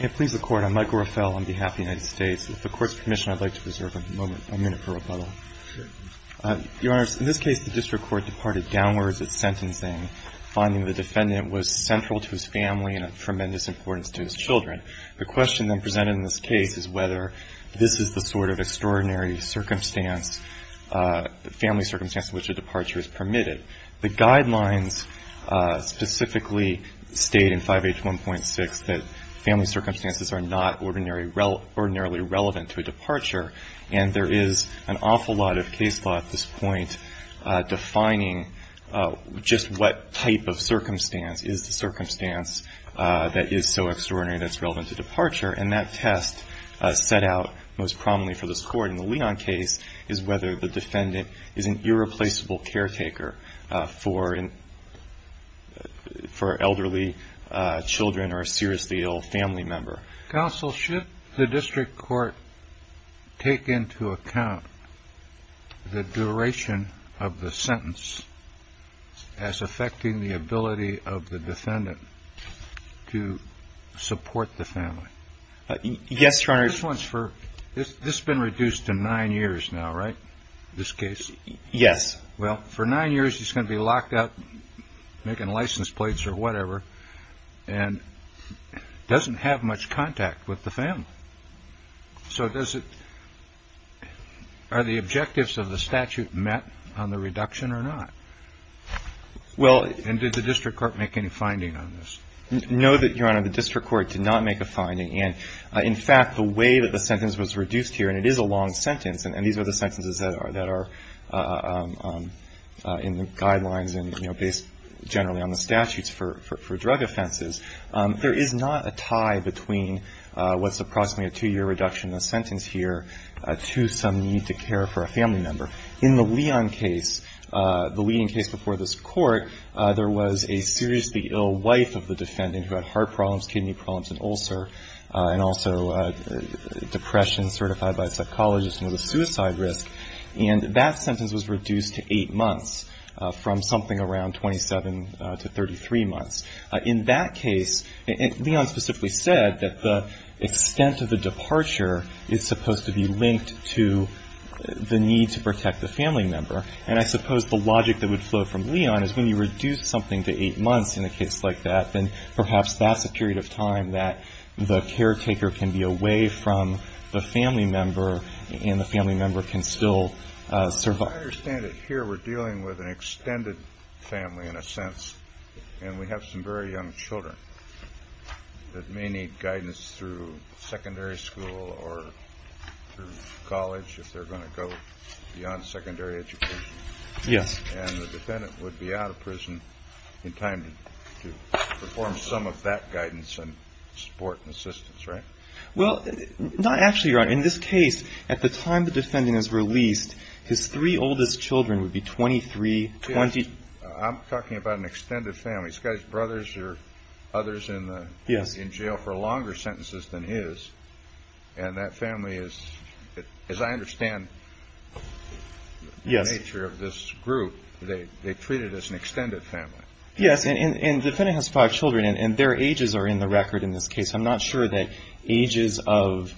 If the Court's permission, I'd like to reserve a moment, a minute for rebuttal. Your Honor, in this case, the district court departed downwards at sentencing, finding the defendant was central to his family and of tremendous importance to his children. The question then presented in this case is whether this is the sort of extraordinary circumstance, family circumstance in which a departure is permitted. The guidelines specifically state in 5H1.6 that family circumstances are not ordinarily relevant to a departure, and there is an awful lot of case law at this point defining just what type of circumstance is the circumstance that is so extraordinary that it's relevant to departure, and that test set out most prominently for this Court in the Leon case is whether the defendant is an irreplaceable caretaker for elderly children or a seriously ill family member. Counsel, should the district court take into account the duration of the sentence as affecting the ability of the defendant to support the family? Yes, Your Honor. This has been reduced to nine years now, right, this case? Yes. Well, for nine years, he's going to be locked up making license plates or whatever and doesn't have much contact with the family. So are the objectives of the statute met on the reduction or not? And did the district court make any finding on this? No, Your Honor. And in fact, the way that the sentence was reduced here, and it is a long sentence, and these are the sentences that are in the guidelines and, you know, based generally on the statutes for drug offenses, there is not a tie between what's approximately a two-year reduction in the sentence here to some need to care for a family member. In the Leon case, the leading case before this Court, there was a seriously ill wife of the defendant who had heart problems, kidney problems, and ulcer, and also depression certified by a psychologist and was a suicide risk. And that sentence was reduced to eight months from something around 27 to 33 months. In that case, Leon specifically said that the extent of the departure is supposed to be linked to the need to protect the family member. And I suppose the logic that would flow from Leon is when you reduce something to eight months in a case like that, then perhaps that's a period of time that the caretaker can be away from the family member and the family member can still survive. I understand that here we're dealing with an extended family in a sense, and we have some very young children that may need guidance through secondary school or through college if they're going to go beyond secondary education. Yes. And the defendant would be out of prison in time to perform some of that guidance and support and assistance, right? Well, not actually, Your Honor. In this case, at the time the defendant is released, his three oldest children would be 23, 20. I'm talking about an extended family. These guys' brothers are others in jail for longer sentences than his. And that family is, as I understand the nature of this group, they're treated as an extended family. Yes. And the defendant has five children, and their ages are in the record in this case. I'm not sure that ages of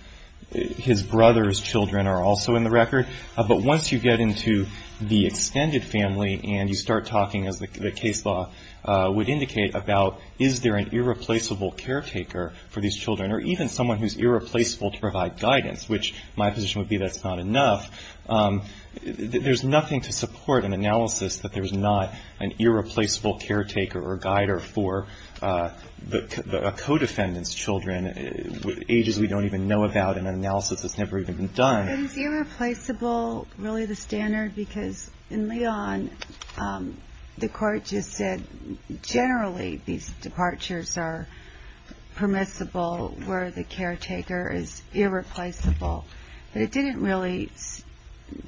his brother's children are also in the record. But once you get into the extended family and you start talking, as the case law would indicate, about is there an irreplaceable caretaker for these children, or even someone who's irreplaceable to provide guidance, which my position would be that's not enough, there's nothing to support an analysis that there's not an irreplaceable caretaker or a guider for a co-defendant's children with ages we don't even know about and an analysis that's never even been done. Is irreplaceable really the standard? Because in Leon, the court just said generally these departures are permissible where the caretaker is irreplaceable. But it didn't really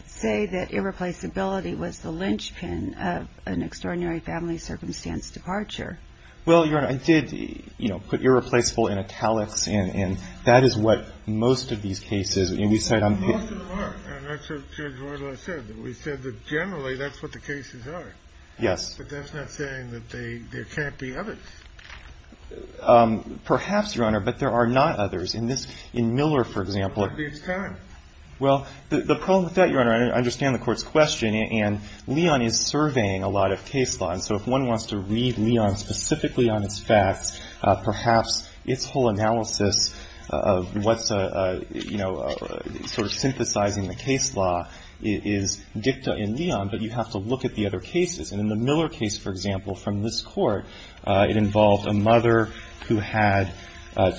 say that irreplaceability was the linchpin of an extraordinary family circumstance departure. Well, Your Honor, I did, you know, put irreplaceable in italics, and that is what most of these cases, and we said on the case. Most of them are. And that's what Judge Royla said, that we said that generally that's what the cases are. Yes. But that's not saying that there can't be others. Perhaps, Your Honor, but there are not others. In Miller, for example. Well, the problem with that, Your Honor, I understand the court's question, and Leon is surveying a lot of case law, and so if one wants to read Leon specifically on its facts, perhaps its whole analysis of what's a, you know, sort of synthesizing the case law is dicta in Leon, but you have to look at the other cases. And in the Miller case, for example, from this court, it involved a mother who had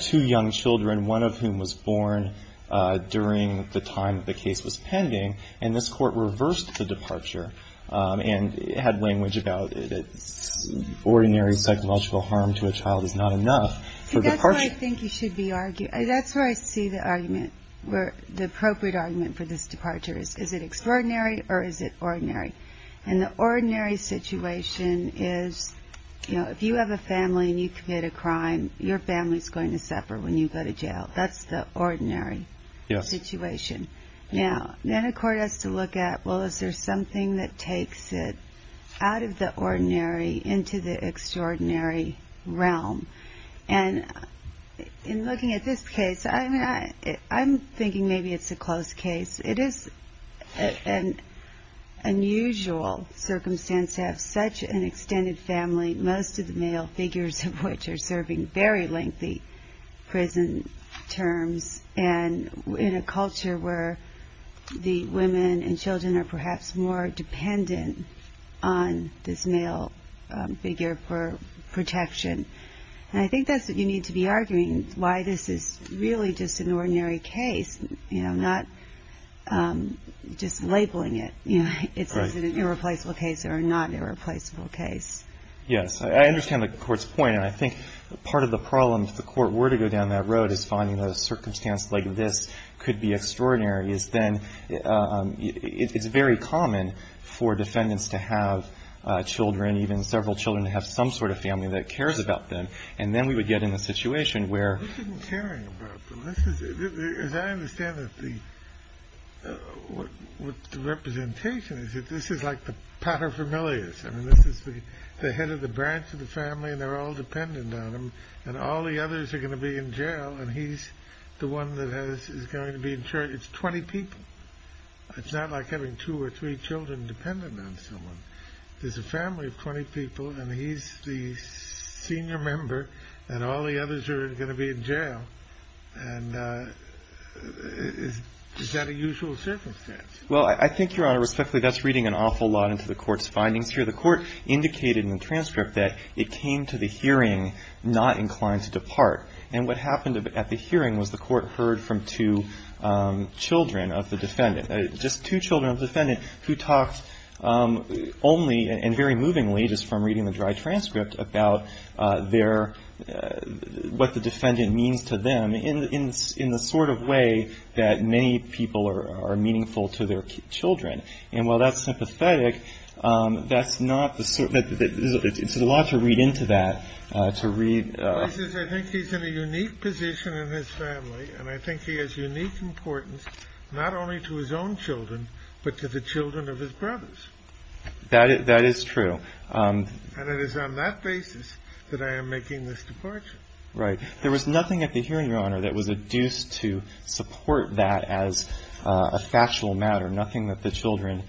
two young children, one of whom was born during the time that the case was pending, and this court reversed the departure and had language about ordinary psychological harm to a child is not enough. That's where I think you should be arguing. That's where I see the argument, the appropriate argument for this departure is, is it extraordinary or is it ordinary? And the ordinary situation is, you know, if you have a family and you commit a crime, your family's going to suffer when you go to jail. That's the ordinary situation. Yes. Now, then a court has to look at, well, is there something that takes it out of the ordinary into the extraordinary realm? And in looking at this case, I'm thinking maybe it's a close case. It is an unusual circumstance to have such an extended family, most of the male figures of which are serving very lengthy prison terms, and in a culture where the women and children are perhaps more dependent on this male figure for protection. And I think that's what you need to be arguing, why this is really just an ordinary case, you know, not just labeling it, you know, it's an irreplaceable case or not irreplaceable case. Yes. I understand the court's point, and I think part of the problem, if the court were to go down that road, is finding a circumstance like this could be extraordinary, is then it's very common for defendants to have children, even several children, to have some sort of family that cares about them. And then we would get in a situation where. This isn't caring about them. As I understand it, the representation is that this is like the paterfamilias. I mean, this is the head of the branch of the family, and they're all dependent on him, and all the others are going to be in jail, and he's the one that is going to be in charge. It's 20 people. It's not like having two or three children dependent on someone. There's a family of 20 people, and he's the senior member, and all the others are going to be in jail. And is that a usual circumstance? Well, I think, Your Honor, respectfully, that's reading an awful lot into the court's findings here. The court indicated in the transcript that it came to the hearing not inclined to depart. And what happened at the hearing was the court heard from two children of the defendant, just two children of the defendant who talked only and very movingly, just from reading the dry transcript, about what the defendant means to them in the sort of way that many people are meaningful to their children. And while that's sympathetic, that's not the sort of – it's a lot to read into that, to read – He says, I think he's in a unique position in his family, and I think he has unique importance not only to his own children, but to the children of his brothers. That is true. And it is on that basis that I am making this departure. Right. There was nothing at the hearing, Your Honor, that was adduced to support that as a factual matter, nothing that the children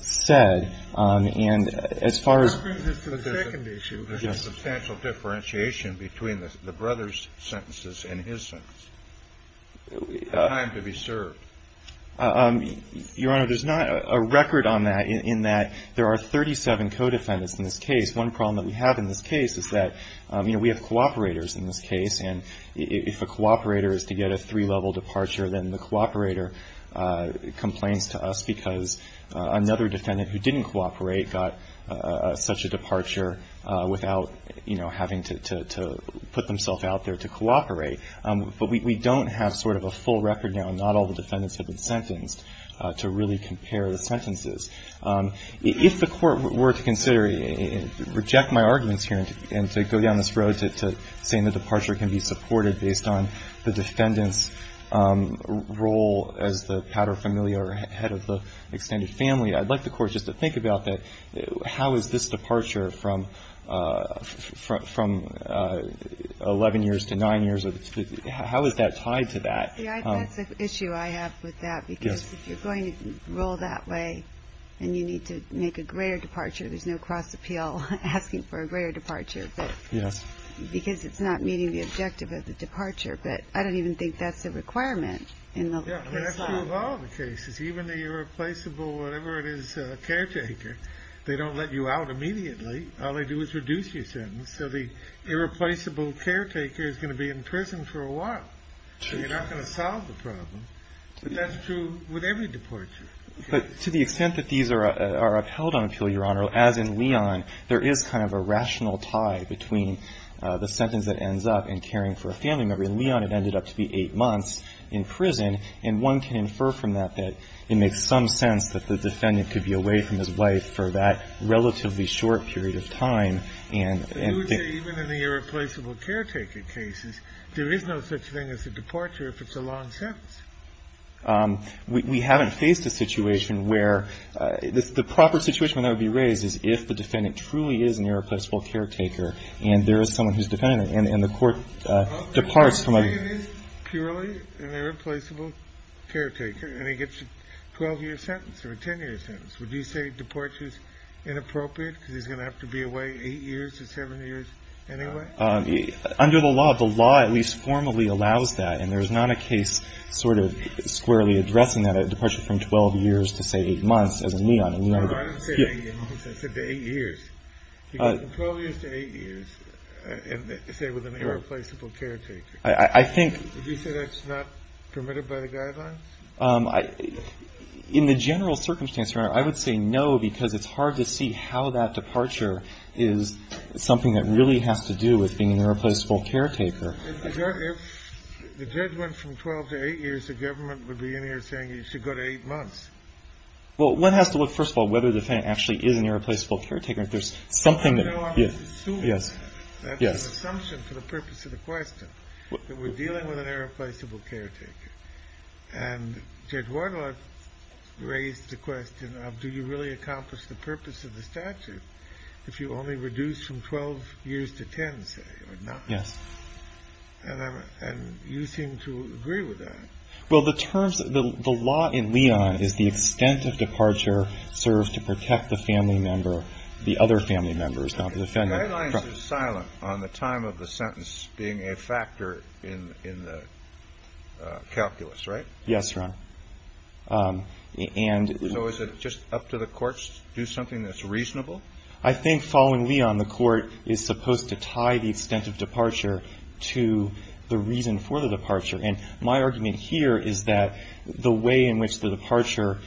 said. And as far as – That brings us to the second issue. Yes. There's a substantial differentiation between the brothers' sentences and his sentence. Time to be served. Your Honor, there's not a record on that in that there are 37 co-defendants in this case. One problem that we have in this case is that, you know, we have cooperators in this case, and if a cooperator is to get a three-level departure, then the cooperator complains to us because another defendant who didn't cooperate got such a departure without, you know, having to put themselves out there to cooperate. But we don't have sort of a full record now. Not all the defendants have been sentenced to really compare the sentences. If the Court were to consider – reject my arguments here and to go down this road to saying that the departure can be supported based on the defendant's role as the pater familiare or head of the extended family, I'd like the Court just to think about that. How is this departure from 11 years to 9 years? How is that tied to that? See, that's an issue I have with that. Yes. Because if you're going to rule that way and you need to make a greater departure, there's no cross-appeal asking for a greater departure. Yes. Because it's not meeting the objective of the departure. But I don't even think that's a requirement in the case law. Yes. And that's true of all the cases. Even the irreplaceable whatever-it-is caretaker, they don't let you out immediately. All they do is reduce your sentence. So the irreplaceable caretaker is going to be in prison for a while. So you're not going to solve the problem. But that's true with every departure. But to the extent that these are upheld on appeal, Your Honor, as in Leon, there is kind of a rational tie between the sentence that ends up and caring for a family member. In Leon, it ended up to be 8 months in prison. And one can infer from that that it makes some sense that the defendant could be away from his wife for that relatively short period of time. And they would say even in the irreplaceable caretaker cases, there is no such thing as a departure if it's a long sentence. We haven't faced a situation where the proper situation when that would be raised is if the defendant truly is an irreplaceable caretaker and there is someone who's defendant and the court departs from a ---- The defendant is purely an irreplaceable caretaker and he gets a 12-year sentence or a 10-year sentence. Would you say departure is inappropriate because he's going to have to be away 8 years or 7 years anyway? Under the law, the law at least formally allows that. And there's not a case sort of squarely addressing that departure from 12 years to, say, 8 months as in Leon. I didn't say 8 months. I said 8 years. From 12 years to 8 years, say, with an irreplaceable caretaker. I think ---- Would you say that's not permitted by the guidelines? In the general circumstance, Your Honor, I would say no because it's hard to see how that departure is something that really has to do with being an irreplaceable caretaker. If the judge went from 12 to 8 years, the government would be in here saying you should go to 8 months. Well, one has to look, first of all, whether the defendant actually is an irreplaceable caretaker. If there's something that ---- I know I'm assuming that. Yes. That's an assumption for the purpose of the question, that we're dealing with an irreplaceable caretaker. And Judge Wardlaw raised the question of do you really accomplish the purpose of the statute if you only reduce from 12 years to 10, say, or 9? Yes. And you seem to agree with that. Well, the terms ---- the law in Leon is the extent of departure serves to protect the family member, the other family members, not the defendant. The guidelines are silent on the time of the sentence being a factor in the calculus, right? Yes, Your Honor. And ---- So is it just up to the courts to do something that's reasonable? I think following Leon, the court is supposed to tie the extent of departure to the reason for the departure. And my argument here is that the way in which the departure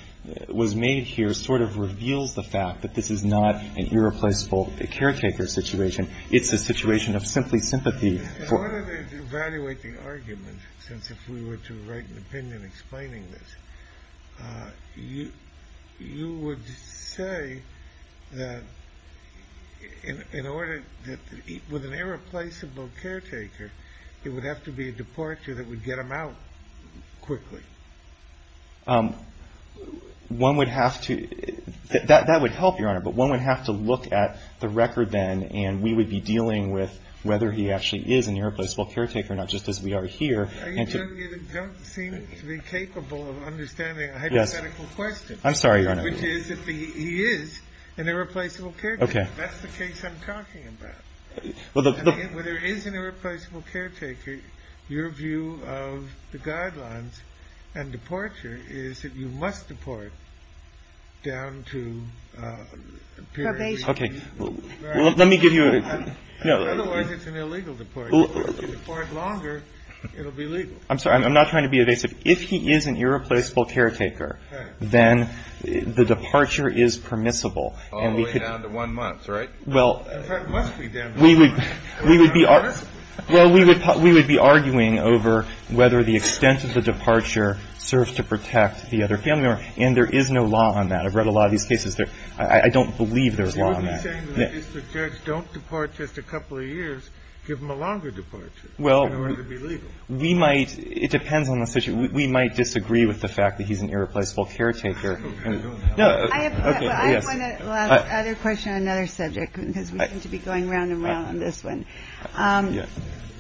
was made here sort of reveals the fact that this is not an irreplaceable caretaker situation. It's a situation of simply sympathy for ---- In order to evaluate the argument, since if we were to write an opinion explaining this, you would say that in order to ---- with an irreplaceable caretaker, it would have to be a departure that would get him out quickly. One would have to ---- that would help, Your Honor. But one would have to look at the record then, and we would be dealing with whether he actually is an irreplaceable caretaker, not just as we are here. You don't seem to be capable of understanding a hypothetical question. Yes. I'm sorry, Your Honor. Which is if he is an irreplaceable caretaker. Okay. That's the case I'm talking about. Well, there is an irreplaceable caretaker. Your view of the guidelines and departure is that you must deport down to ---- Probation. Okay. Let me give you a ---- Otherwise, it's an illegal deport. If you deport longer, it will be legal. I'm sorry. I'm not trying to be evasive. If he is an irreplaceable caretaker, then the departure is permissible. All the way down to one month, right? Well, we would be arguing over whether the extent of the departure serves to protect the other family member. And there is no law on that. I've read a lot of these cases. I don't believe there's law on that. You would be saying if the judge don't depart just a couple of years, give him a longer departure in order to be legal. Well, we might ---- it depends on the situation. We might disagree with the fact that he's an irreplaceable caretaker. I have one other question on another subject. Because we seem to be going round and round on this one. Yes.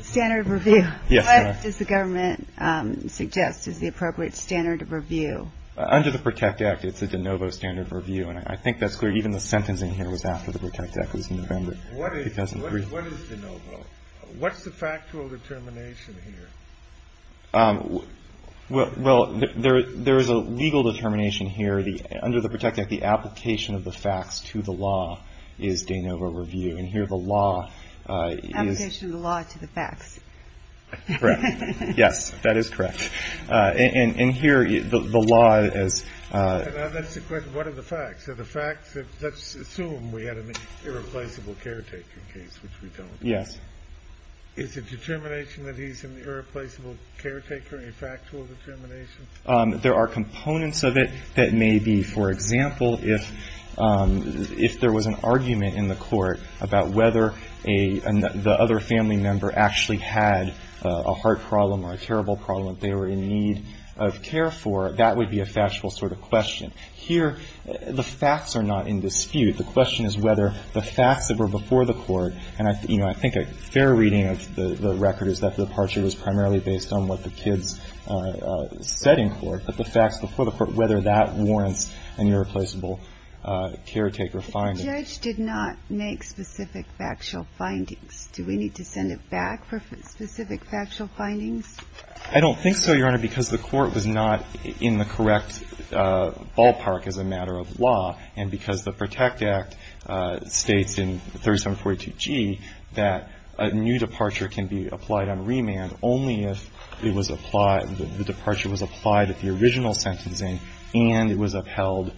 Standard of review. Yes, ma'am. What does the government suggest is the appropriate standard of review? Under the PROTECT Act, it's a de novo standard of review. And I think that's clear. Even the sentencing here was after the PROTECT Act. It was in November. What is de novo? What's the factual determination here? Well, there is a legal determination here. Under the PROTECT Act, the application of the facts to the law is de novo review. And here the law is ---- Application of the law to the facts. Correct. Yes. That is correct. And here the law is ---- What are the facts? Are the facts that ---- let's assume we had an irreplaceable caretaker case, which we don't. Yes. Is the determination that he's an irreplaceable caretaker a factual determination? There are components of it that may be. For example, if there was an argument in the court about whether the other family member actually had a heart problem or a terrible problem that they were in need of care for, that would be a factual sort of question. Here the facts are not in dispute. The question is whether the facts that were before the court, and I think a fair reading of the record is that the departure was primarily based on what the kids said in court, but the facts before the court, whether that warrants an irreplaceable caretaker finding. But the judge did not make specific factual findings. Do we need to send it back for specific factual findings? I don't think so, Your Honor, because the court was not in the correct ballpark as a matter of law, and because the PROTECT Act states in 3742G that a new departure can be applied on remand only if it was applied, the departure was applied at the original sentencing and it was upheld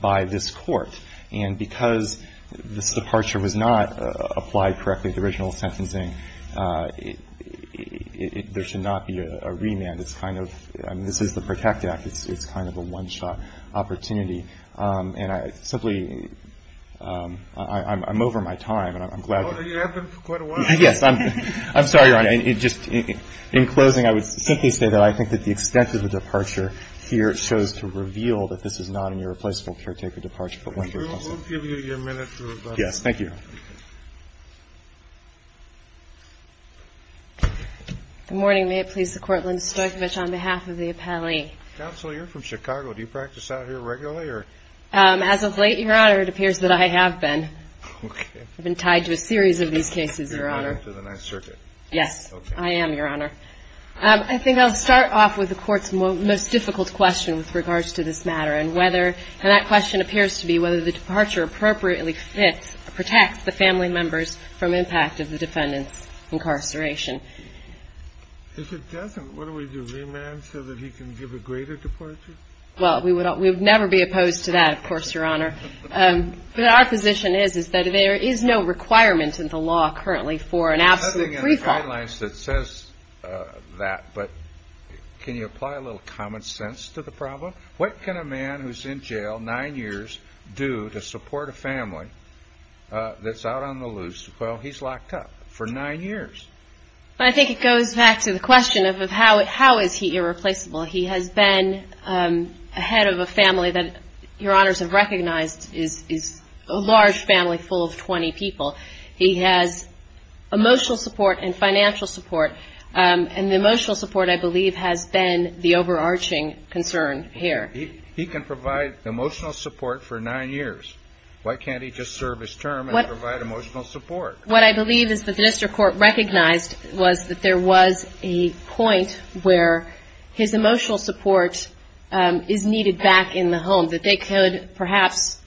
by this Court. And because this departure was not applied correctly at the original sentencing, there should not be a remand. It's kind of, I mean, this is the PROTECT Act. It's kind of a one-shot opportunity. And I simply, I'm over my time and I'm glad. You have been for quite a while. Yes. I'm sorry, Your Honor. In closing, I would simply say that I think that the extent of the departure here shows to reveal that this is not an irreplaceable caretaker departure, but one that is possible. We will give you your minute to rebut. Yes. Thank you. Good morning. May it please the Court. Linda Stoykovich on behalf of the appellee. Counsel, you're from Chicago. Do you practice out here regularly or? As of late, Your Honor, it appears that I have been. Okay. I've been tied to a series of these cases, Your Honor. You're on to the next circuit. Yes. Okay. I am, Your Honor. I think I'll start off with the Court's most difficult question with regards to this matter and whether, and that question appears to be whether the departure appropriately fits, protects the family members from impact of the defendant's incarceration. If it doesn't, what do we do? Remand so that he can give a greater departure? Well, we would never be opposed to that, of course, Your Honor. But our position is that there is no requirement in the law currently for an absolute free fall. Something in the guidelines that says that, but can you apply a little common sense to the problem? What can a man who's in jail nine years do to support a family that's out on the loose? Well, he's locked up for nine years. I think it goes back to the question of how is he irreplaceable? He has been ahead of a family that Your Honors have recognized is a large family full of 20 people. He has emotional support and financial support, and the emotional support, I believe, has been the overarching concern here. He can provide emotional support for nine years. Why can't he just serve his term and provide emotional support? What I believe is that the district court recognized was that there was a point where his emotional support is needed back in the home, that they could perhaps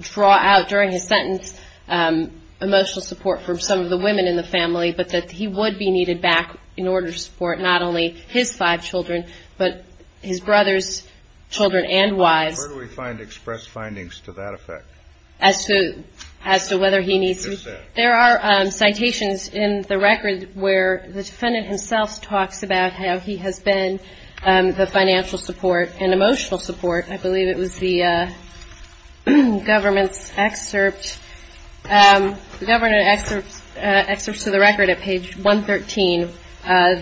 draw out during his sentence emotional support for some of the women in the family, but that he would be needed back in order to support not only his five children, but his brothers' children and wives. Where do we find expressed findings to that effect? As to whether he needs it? There are citations in the record where the defendant himself talks about how he has been the financial support and emotional support, I believe it was the governor's excerpt to the record at page 113.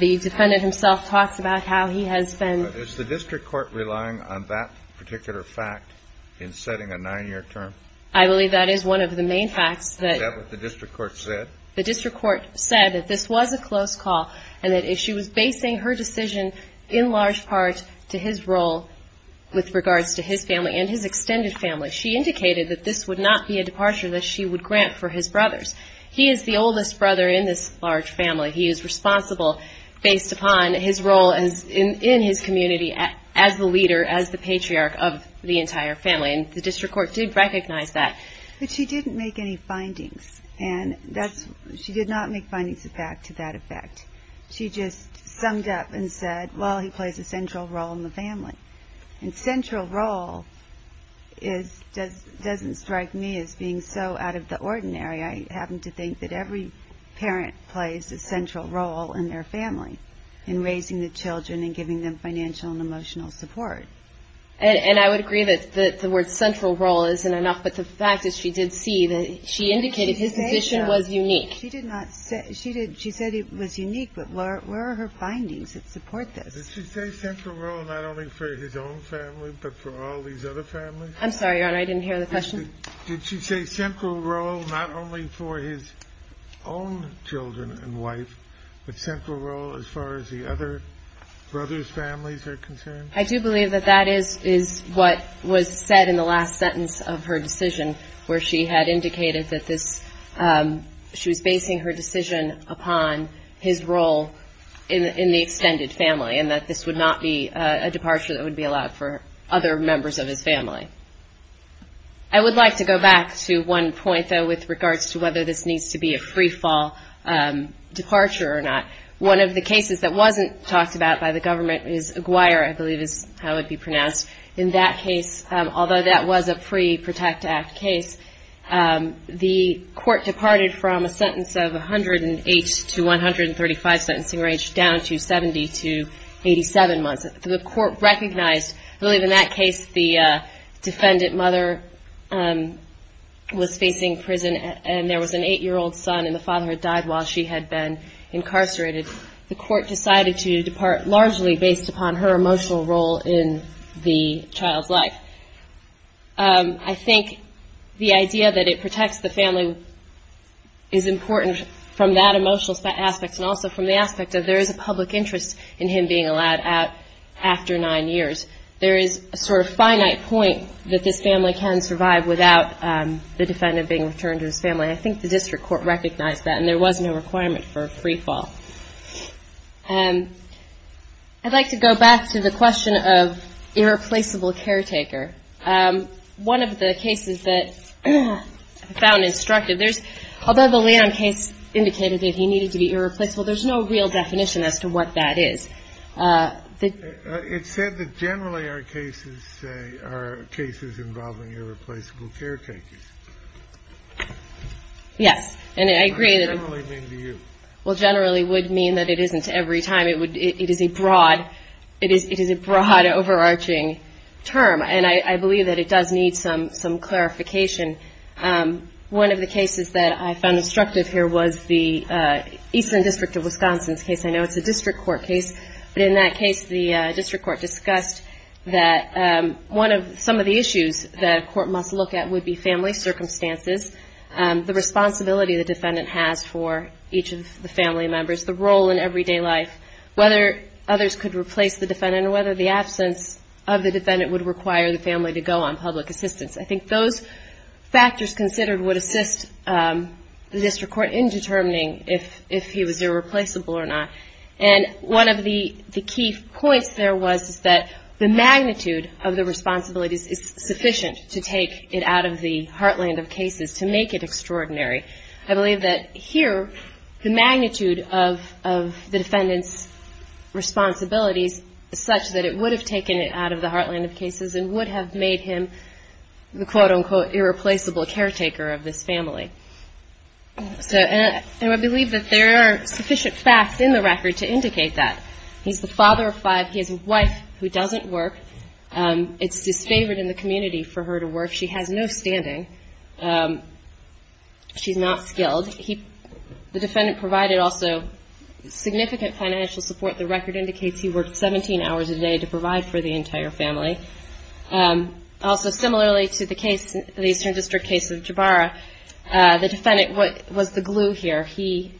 The defendant himself talks about how he has been. Is the district court relying on that particular fact in setting a nine-year term? I believe that is one of the main facts. Is that what the district court said? The district court said that this was a close call and that she was basing her decision in large part to his role with regards to his family and his extended family. She indicated that this would not be a departure that she would grant for his brothers. He is the oldest brother in this large family. He is responsible based upon his role in his community as the leader, as the patriarch of the entire family. The district court did recognize that. But she didn't make any findings. She did not make findings back to that effect. She just summed up and said, well, he plays a central role in the family. Central role doesn't strike me as being so out of the ordinary. I happen to think that every parent plays a central role in their family in raising the children and giving them financial and emotional support. And I would agree that the word central role isn't enough. But the fact is she did see that she indicated his position was unique. She did not. She did. She said it was unique. But where are her findings that support this? Did she say central role not only for his own family but for all these other families? I'm sorry, Your Honor. I didn't hear the question. Did she say central role not only for his own children and wife, but central role as far as the other brothers' families are concerned? I do believe that that is what was said in the last sentence of her decision, where she had indicated that she was basing her decision upon his role in the extended family and that this would not be a departure that would be allowed for other members of his family. I would like to go back to one point, though, with regards to whether this needs to be a freefall departure or not. One of the cases that wasn't talked about by the government is Aguirre, I believe is how it would be pronounced. In that case, although that was a pre-Protect Act case, the court departed from a sentence of 108 to 135 sentencing range down to 70 to 87 months. The court recognized, I believe in that case the defendant mother was facing prison and there was an eight-year-old son and the father had died while she had been incarcerated. The court decided to depart largely based upon her emotional role in the child's life. I think the idea that it protects the family is important from that emotional aspect and also from the aspect that there is a public interest in him being allowed out after nine years. There is a sort of finite point that this family can survive without the defendant being returned to his family. I think the district court recognized that and there was no requirement for a freefall. I'd like to go back to the question of irreplaceable caretaker. One of the cases that I found instructive, although the Lanham case indicated that he needed to be irreplaceable, there's no real definition as to what that is. It said that generally our cases are cases involving irreplaceable caretakers. Yes. And I agree. What does generally mean to you? Well, generally would mean that it isn't every time. It is a broad, it is a broad, overarching term. And I believe that it does need some clarification. One of the cases that I found instructive here was the Eastern District of Wisconsin's case. I know it's a district court case. But in that case, the district court discussed that some of the issues that a court must look at would be family circumstances, the responsibility the defendant has for each of the family members, the role in everyday life, whether others could replace the defendant, or whether the absence of the defendant would require the family to go on public assistance. I think those factors considered would assist the district court in determining if he was irreplaceable or not. And one of the key points there was that the magnitude of the responsibilities is sufficient to take it out of the heartland of cases, to make it extraordinary. I believe that here the magnitude of the defendant's responsibilities is such that it would have taken it out of the the quote-unquote irreplaceable caretaker of this family. And I believe that there are sufficient facts in the record to indicate that. He's the father of five. He has a wife who doesn't work. It's disfavored in the community for her to work. She has no standing. She's not skilled. The defendant provided also significant financial support. The record indicates he worked 17 hours a day to provide for the entire family. Also, similarly to the Eastern District case of Jabara, the defendant was the glue here. He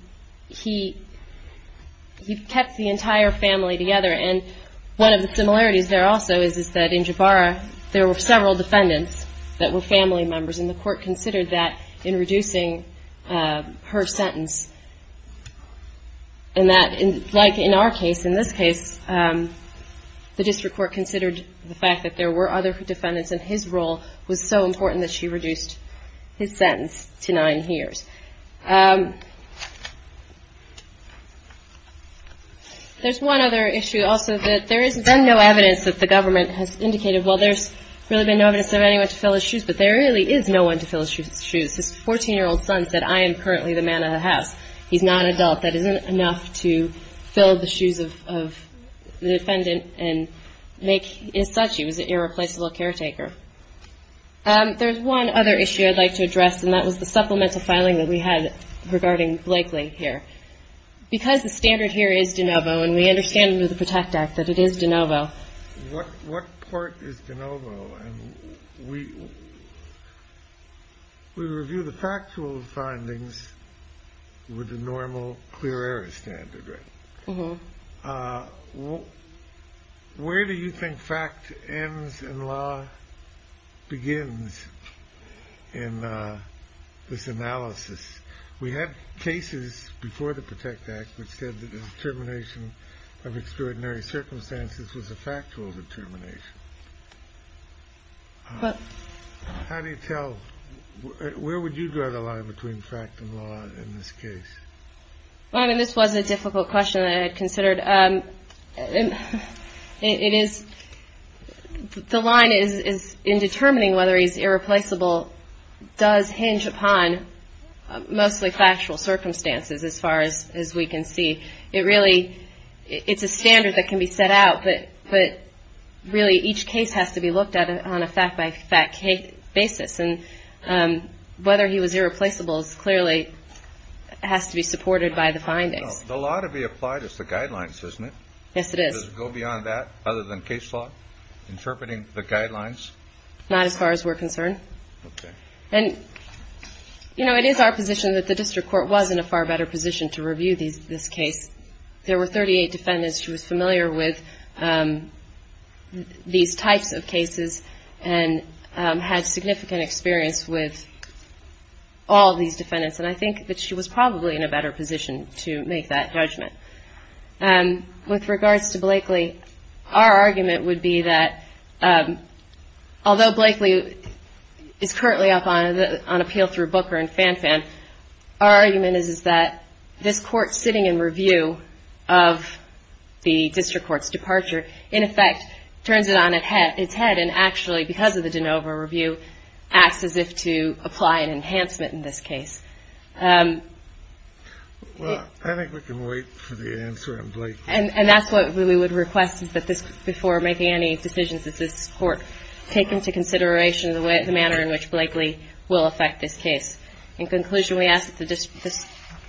kept the entire family together. And one of the similarities there also is that in Jabara there were several defendants that were family members, and the court considered that in reducing her sentence. And that, like in our case, in this case, the district court considered the fact that there were other defendants, and his role was so important that she reduced his sentence to nine years. There's one other issue also that there has been no evidence that the government has indicated, well, there's really been no evidence of anyone to fill his shoes, but there really is no one to fill his shoes. His 14-year-old son said, I am currently the man of the house. He's not an adult. That isn't enough to fill the shoes of the defendant and make his such. He was an irreplaceable caretaker. There's one other issue I'd like to address, and that was the supplemental filing that we had regarding Blakely here. Because the standard here is de novo, and we understand under the PROTECT Act that it is de novo. What part is de novo? And we review the factual findings with the normal clear error standard, right? Where do you think fact ends and law begins in this analysis? We have cases before the PROTECT Act which said that the determination of extraordinary circumstances was a factual determination. How do you tell, where would you draw the line between fact and law in this case? Well, I mean, this was a difficult question that I had considered. It is, the line is in determining whether he's irreplaceable does hinge upon mostly factual circumstances as far as we can see. It really, it's a standard that can be set out, but really each case has to be looked at on a fact-by-fact basis. And whether he was irreplaceable clearly has to be supported by the findings. The law to be applied is the guidelines, isn't it? Yes, it is. Does it go beyond that other than case law, interpreting the guidelines? Not as far as we're concerned. And, you know, it is our position that the district court was in a far better position to review this case. There were 38 defendants. She was familiar with these types of cases and had significant experience with all these defendants. And I think that she was probably in a better position to make that judgment. With regards to Blakely, our argument would be that although Blakely is currently up on appeal through Booker and Fanfan, our argument is that this case, in effect, turns it on its head and actually, because of the de novo review, acts as if to apply an enhancement in this case. Well, I think we can wait for the answer on Blakely. And that's what we would request, is that this, before making any decisions, that this Court take into consideration the manner in which Blakely will affect this case. In conclusion, we ask that this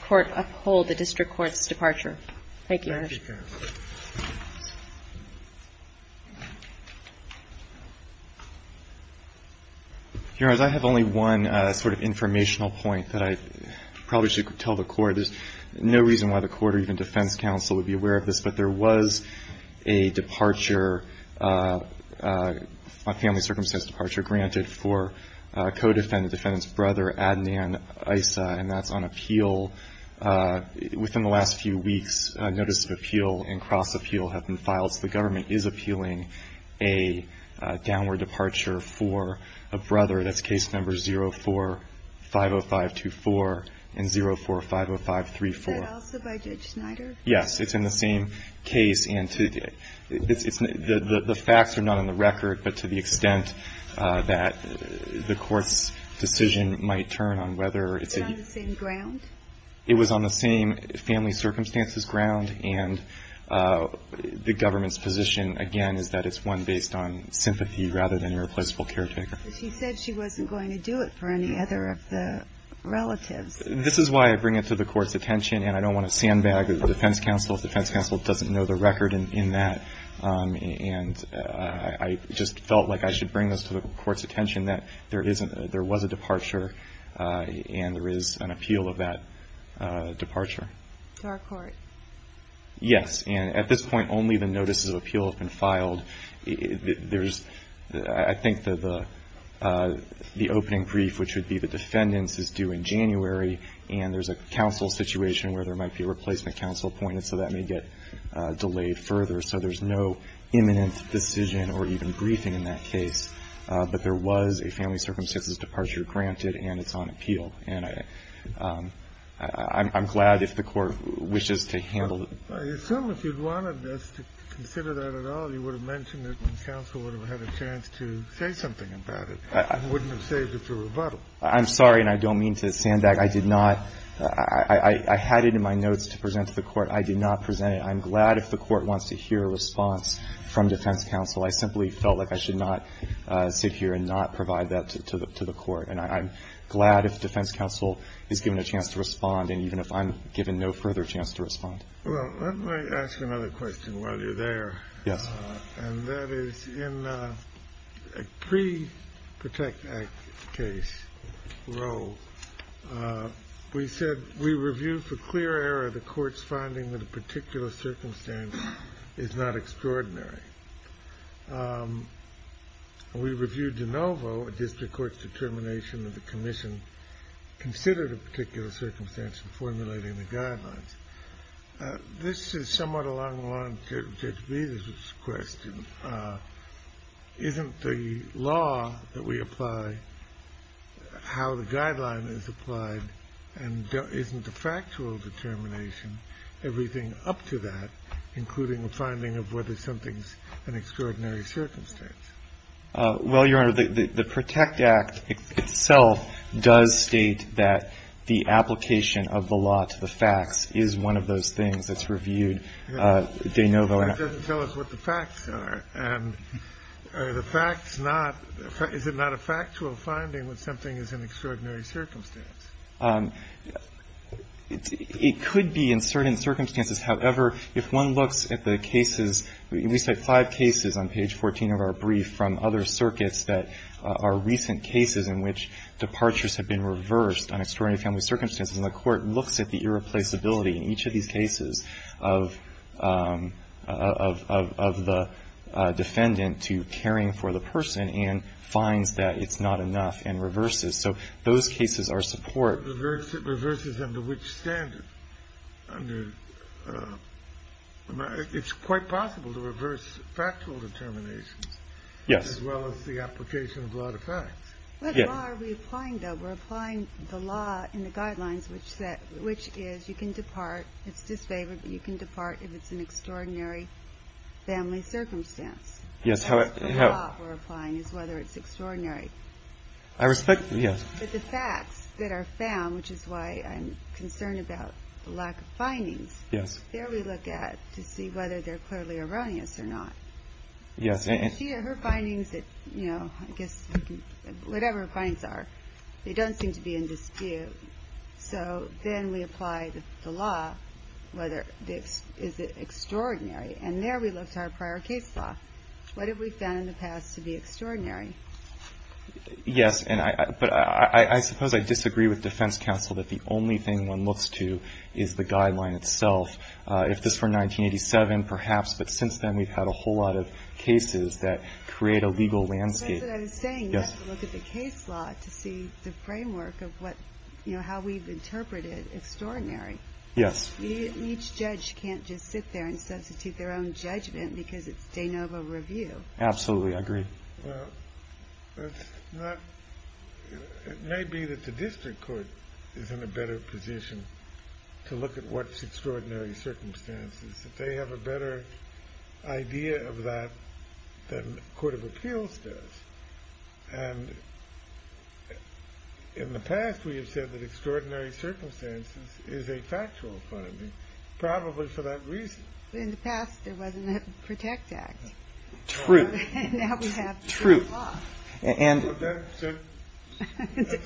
Court uphold the district court's departure. Thank you. Your Honor, I have only one sort of informational point that I probably should tell the Court. There's no reason why the Court or even defense counsel would be aware of this, but there was a departure, a family circumstance departure, granted for co-defendant, defendant's brother, Adnan Issa, and that's on appeal. Within the last few weeks, notice of appeal and cross-appeal have been filed, so the government is appealing a downward departure for a brother. That's case number 04-50524 and 04-50534. Is that also by Judge Snyder? Yes. It's in the same case. The facts are not on the record, but to the extent that the Court's decision might turn on whether it's a... It's on the same family circumstances ground, and the government's position, again, is that it's one based on sympathy rather than irreplaceable caretaker. But she said she wasn't going to do it for any other of the relatives. This is why I bring it to the Court's attention, and I don't want to sandbag the defense counsel if the defense counsel doesn't know the record in that. And I just felt like I should bring this to the Court's attention, that there isn't, there was a departure, and there is an appeal of that departure. To our Court? Yes. And at this point, only the notices of appeal have been filed. There's, I think that the opening brief, which would be the defendants, is due in January, and there's a counsel situation where there might be a replacement counsel appointed, so that may get delayed further. So there's no imminent decision or even briefing in that case. But there was a family circumstances departure granted, and it's on appeal. And I'm glad if the Court wishes to handle it. I assume if you wanted us to consider that at all, you would have mentioned it and counsel would have had a chance to say something about it and wouldn't have saved it through rebuttal. I'm sorry, and I don't mean to sandbag. I did not. I had it in my notes to present to the Court. I did not present it. And I'm glad if the Court wants to hear a response from defense counsel. I simply felt like I should not sit here and not provide that to the Court. And I'm glad if defense counsel is given a chance to respond, and even if I'm given no further chance to respond. Well, let me ask another question while you're there. Yes. And that is in a pre-Protect Act case, Roe, we said we reviewed for clear error the Court's finding that a particular circumstance is not extraordinary. We reviewed de novo a district court's determination that the commission considered a particular circumstance in formulating the guidelines. This is somewhat along the lines of Judge Bezos' question. Isn't the law that we apply, how the guideline is applied, and isn't the factual determination everything up to that, including the finding of whether something's an extraordinary circumstance? Well, Your Honor, the Protect Act itself does state that the application of the law to the facts is one of those things that's reviewed de novo. It doesn't tell us what the facts are. And are the facts not – is it not a factual finding when something is an extraordinary circumstance? It could be in certain circumstances. However, if one looks at the cases – we cite five cases on page 14 of our brief from other circuits that are recent cases in which departures have been reversed on extraordinary family circumstances. And the Court looks at the irreplaceability in each of these cases of the defendant to caring for the person and finds that it's not enough and reverses. So those cases are support. It reverses under which standard? It's quite possible to reverse factual determinations as well as the application of law to facts. What law are we applying, though? We're applying the law in the guidelines, which is you can depart – it's disfavored, but you can depart if it's an extraordinary family circumstance. Yes, how – The law we're applying is whether it's extraordinary. I respect – yes. But the facts that are found, which is why I'm concerned about the lack of findings. Yes. There we look at to see whether they're clearly erroneous or not. Yes. And she or her findings that, you know, I guess whatever her findings are, they don't seem to be in dispute. So then we apply the law, whether – is it extraordinary? And there we look to our prior case law. What have we found in the past to be extraordinary? Yes. But I suppose I disagree with defense counsel that the only thing one looks to is the guideline itself. If this were 1987, perhaps, but since then we've had a whole lot of cases that create a legal landscape. That's what I was saying. You have to look at the case law to see the framework of what – you know, how we've interpreted extraordinary. Yes. Each judge can't just sit there and substitute their own judgment because it's de novo review. Absolutely. I agree. Well, it's not – it may be that the district court is in a better position to look at what's extraordinary circumstances, that they have a better idea of that than the court of appeals does. And in the past we have said that extraordinary circumstances is a factual finding, probably for that reason. In the past there wasn't a PROTECT Act. True. That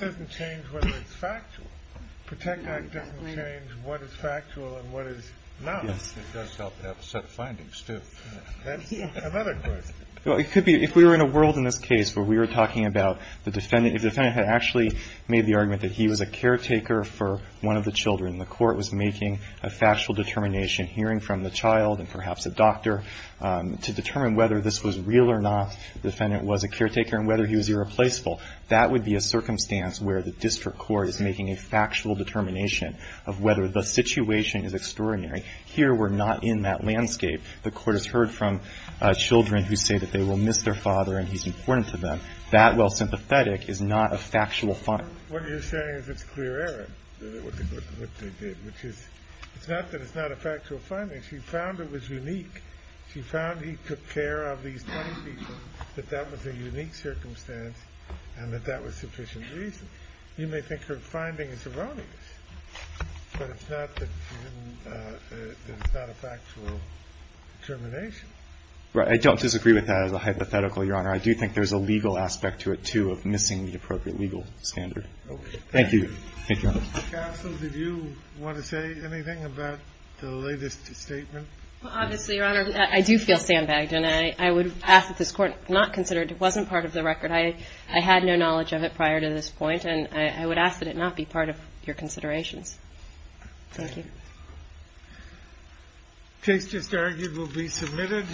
doesn't change whether it's factual. PROTECT Act doesn't change what is factual and what is not. Yes. It does help to have set findings, too. That's another question. Well, it could be – if we were in a world in this case where we were talking about the defendant – if the defendant had actually made the argument that he was a caretaker for one of the children, the court was making a factual determination, hearing from the child and perhaps a doctor to determine whether this was real or not, the defendant was a caretaker and whether he was irreplaceable, that would be a circumstance where the district court is making a factual determination of whether the situation is extraordinary. Here we're not in that landscape. The court has heard from children who say that they will miss their father and he's important to them. That, while sympathetic, is not a factual finding. What you're saying is it's clear error, what they did, which is – it's not that it's not a factual finding. She found it was unique. She found he took care of these 20 people, that that was a unique circumstance and that that was sufficient reason. You may think her finding is erroneous, but it's not that she didn't – that it's not a factual determination. Right. I don't disagree with that as a hypothetical, Your Honor. I do think there's a legal aspect to it, too, of missing the appropriate legal standard. Okay. Thank you. Thank you, Your Honor. Counsel, did you want to say anything about the latest statement? Well, obviously, Your Honor, I do feel sandbagged, and I would ask that this court not consider it. It wasn't part of the record. I had no knowledge of it prior to this point, and I would ask that it not be part of your considerations. Thank you. The case just argued will be submitted.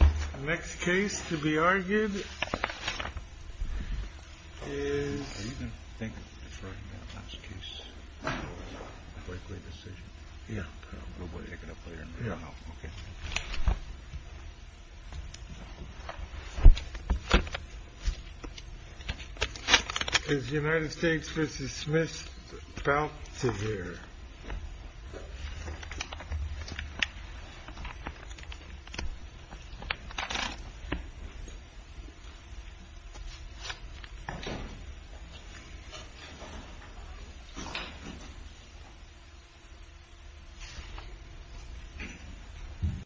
The next case to be argued is – Are you going to think of referring to that last case? Likely decision? Yeah. We'll wake it up later. Yeah. Okay. Is the United States v. Smith about to hear? Okay.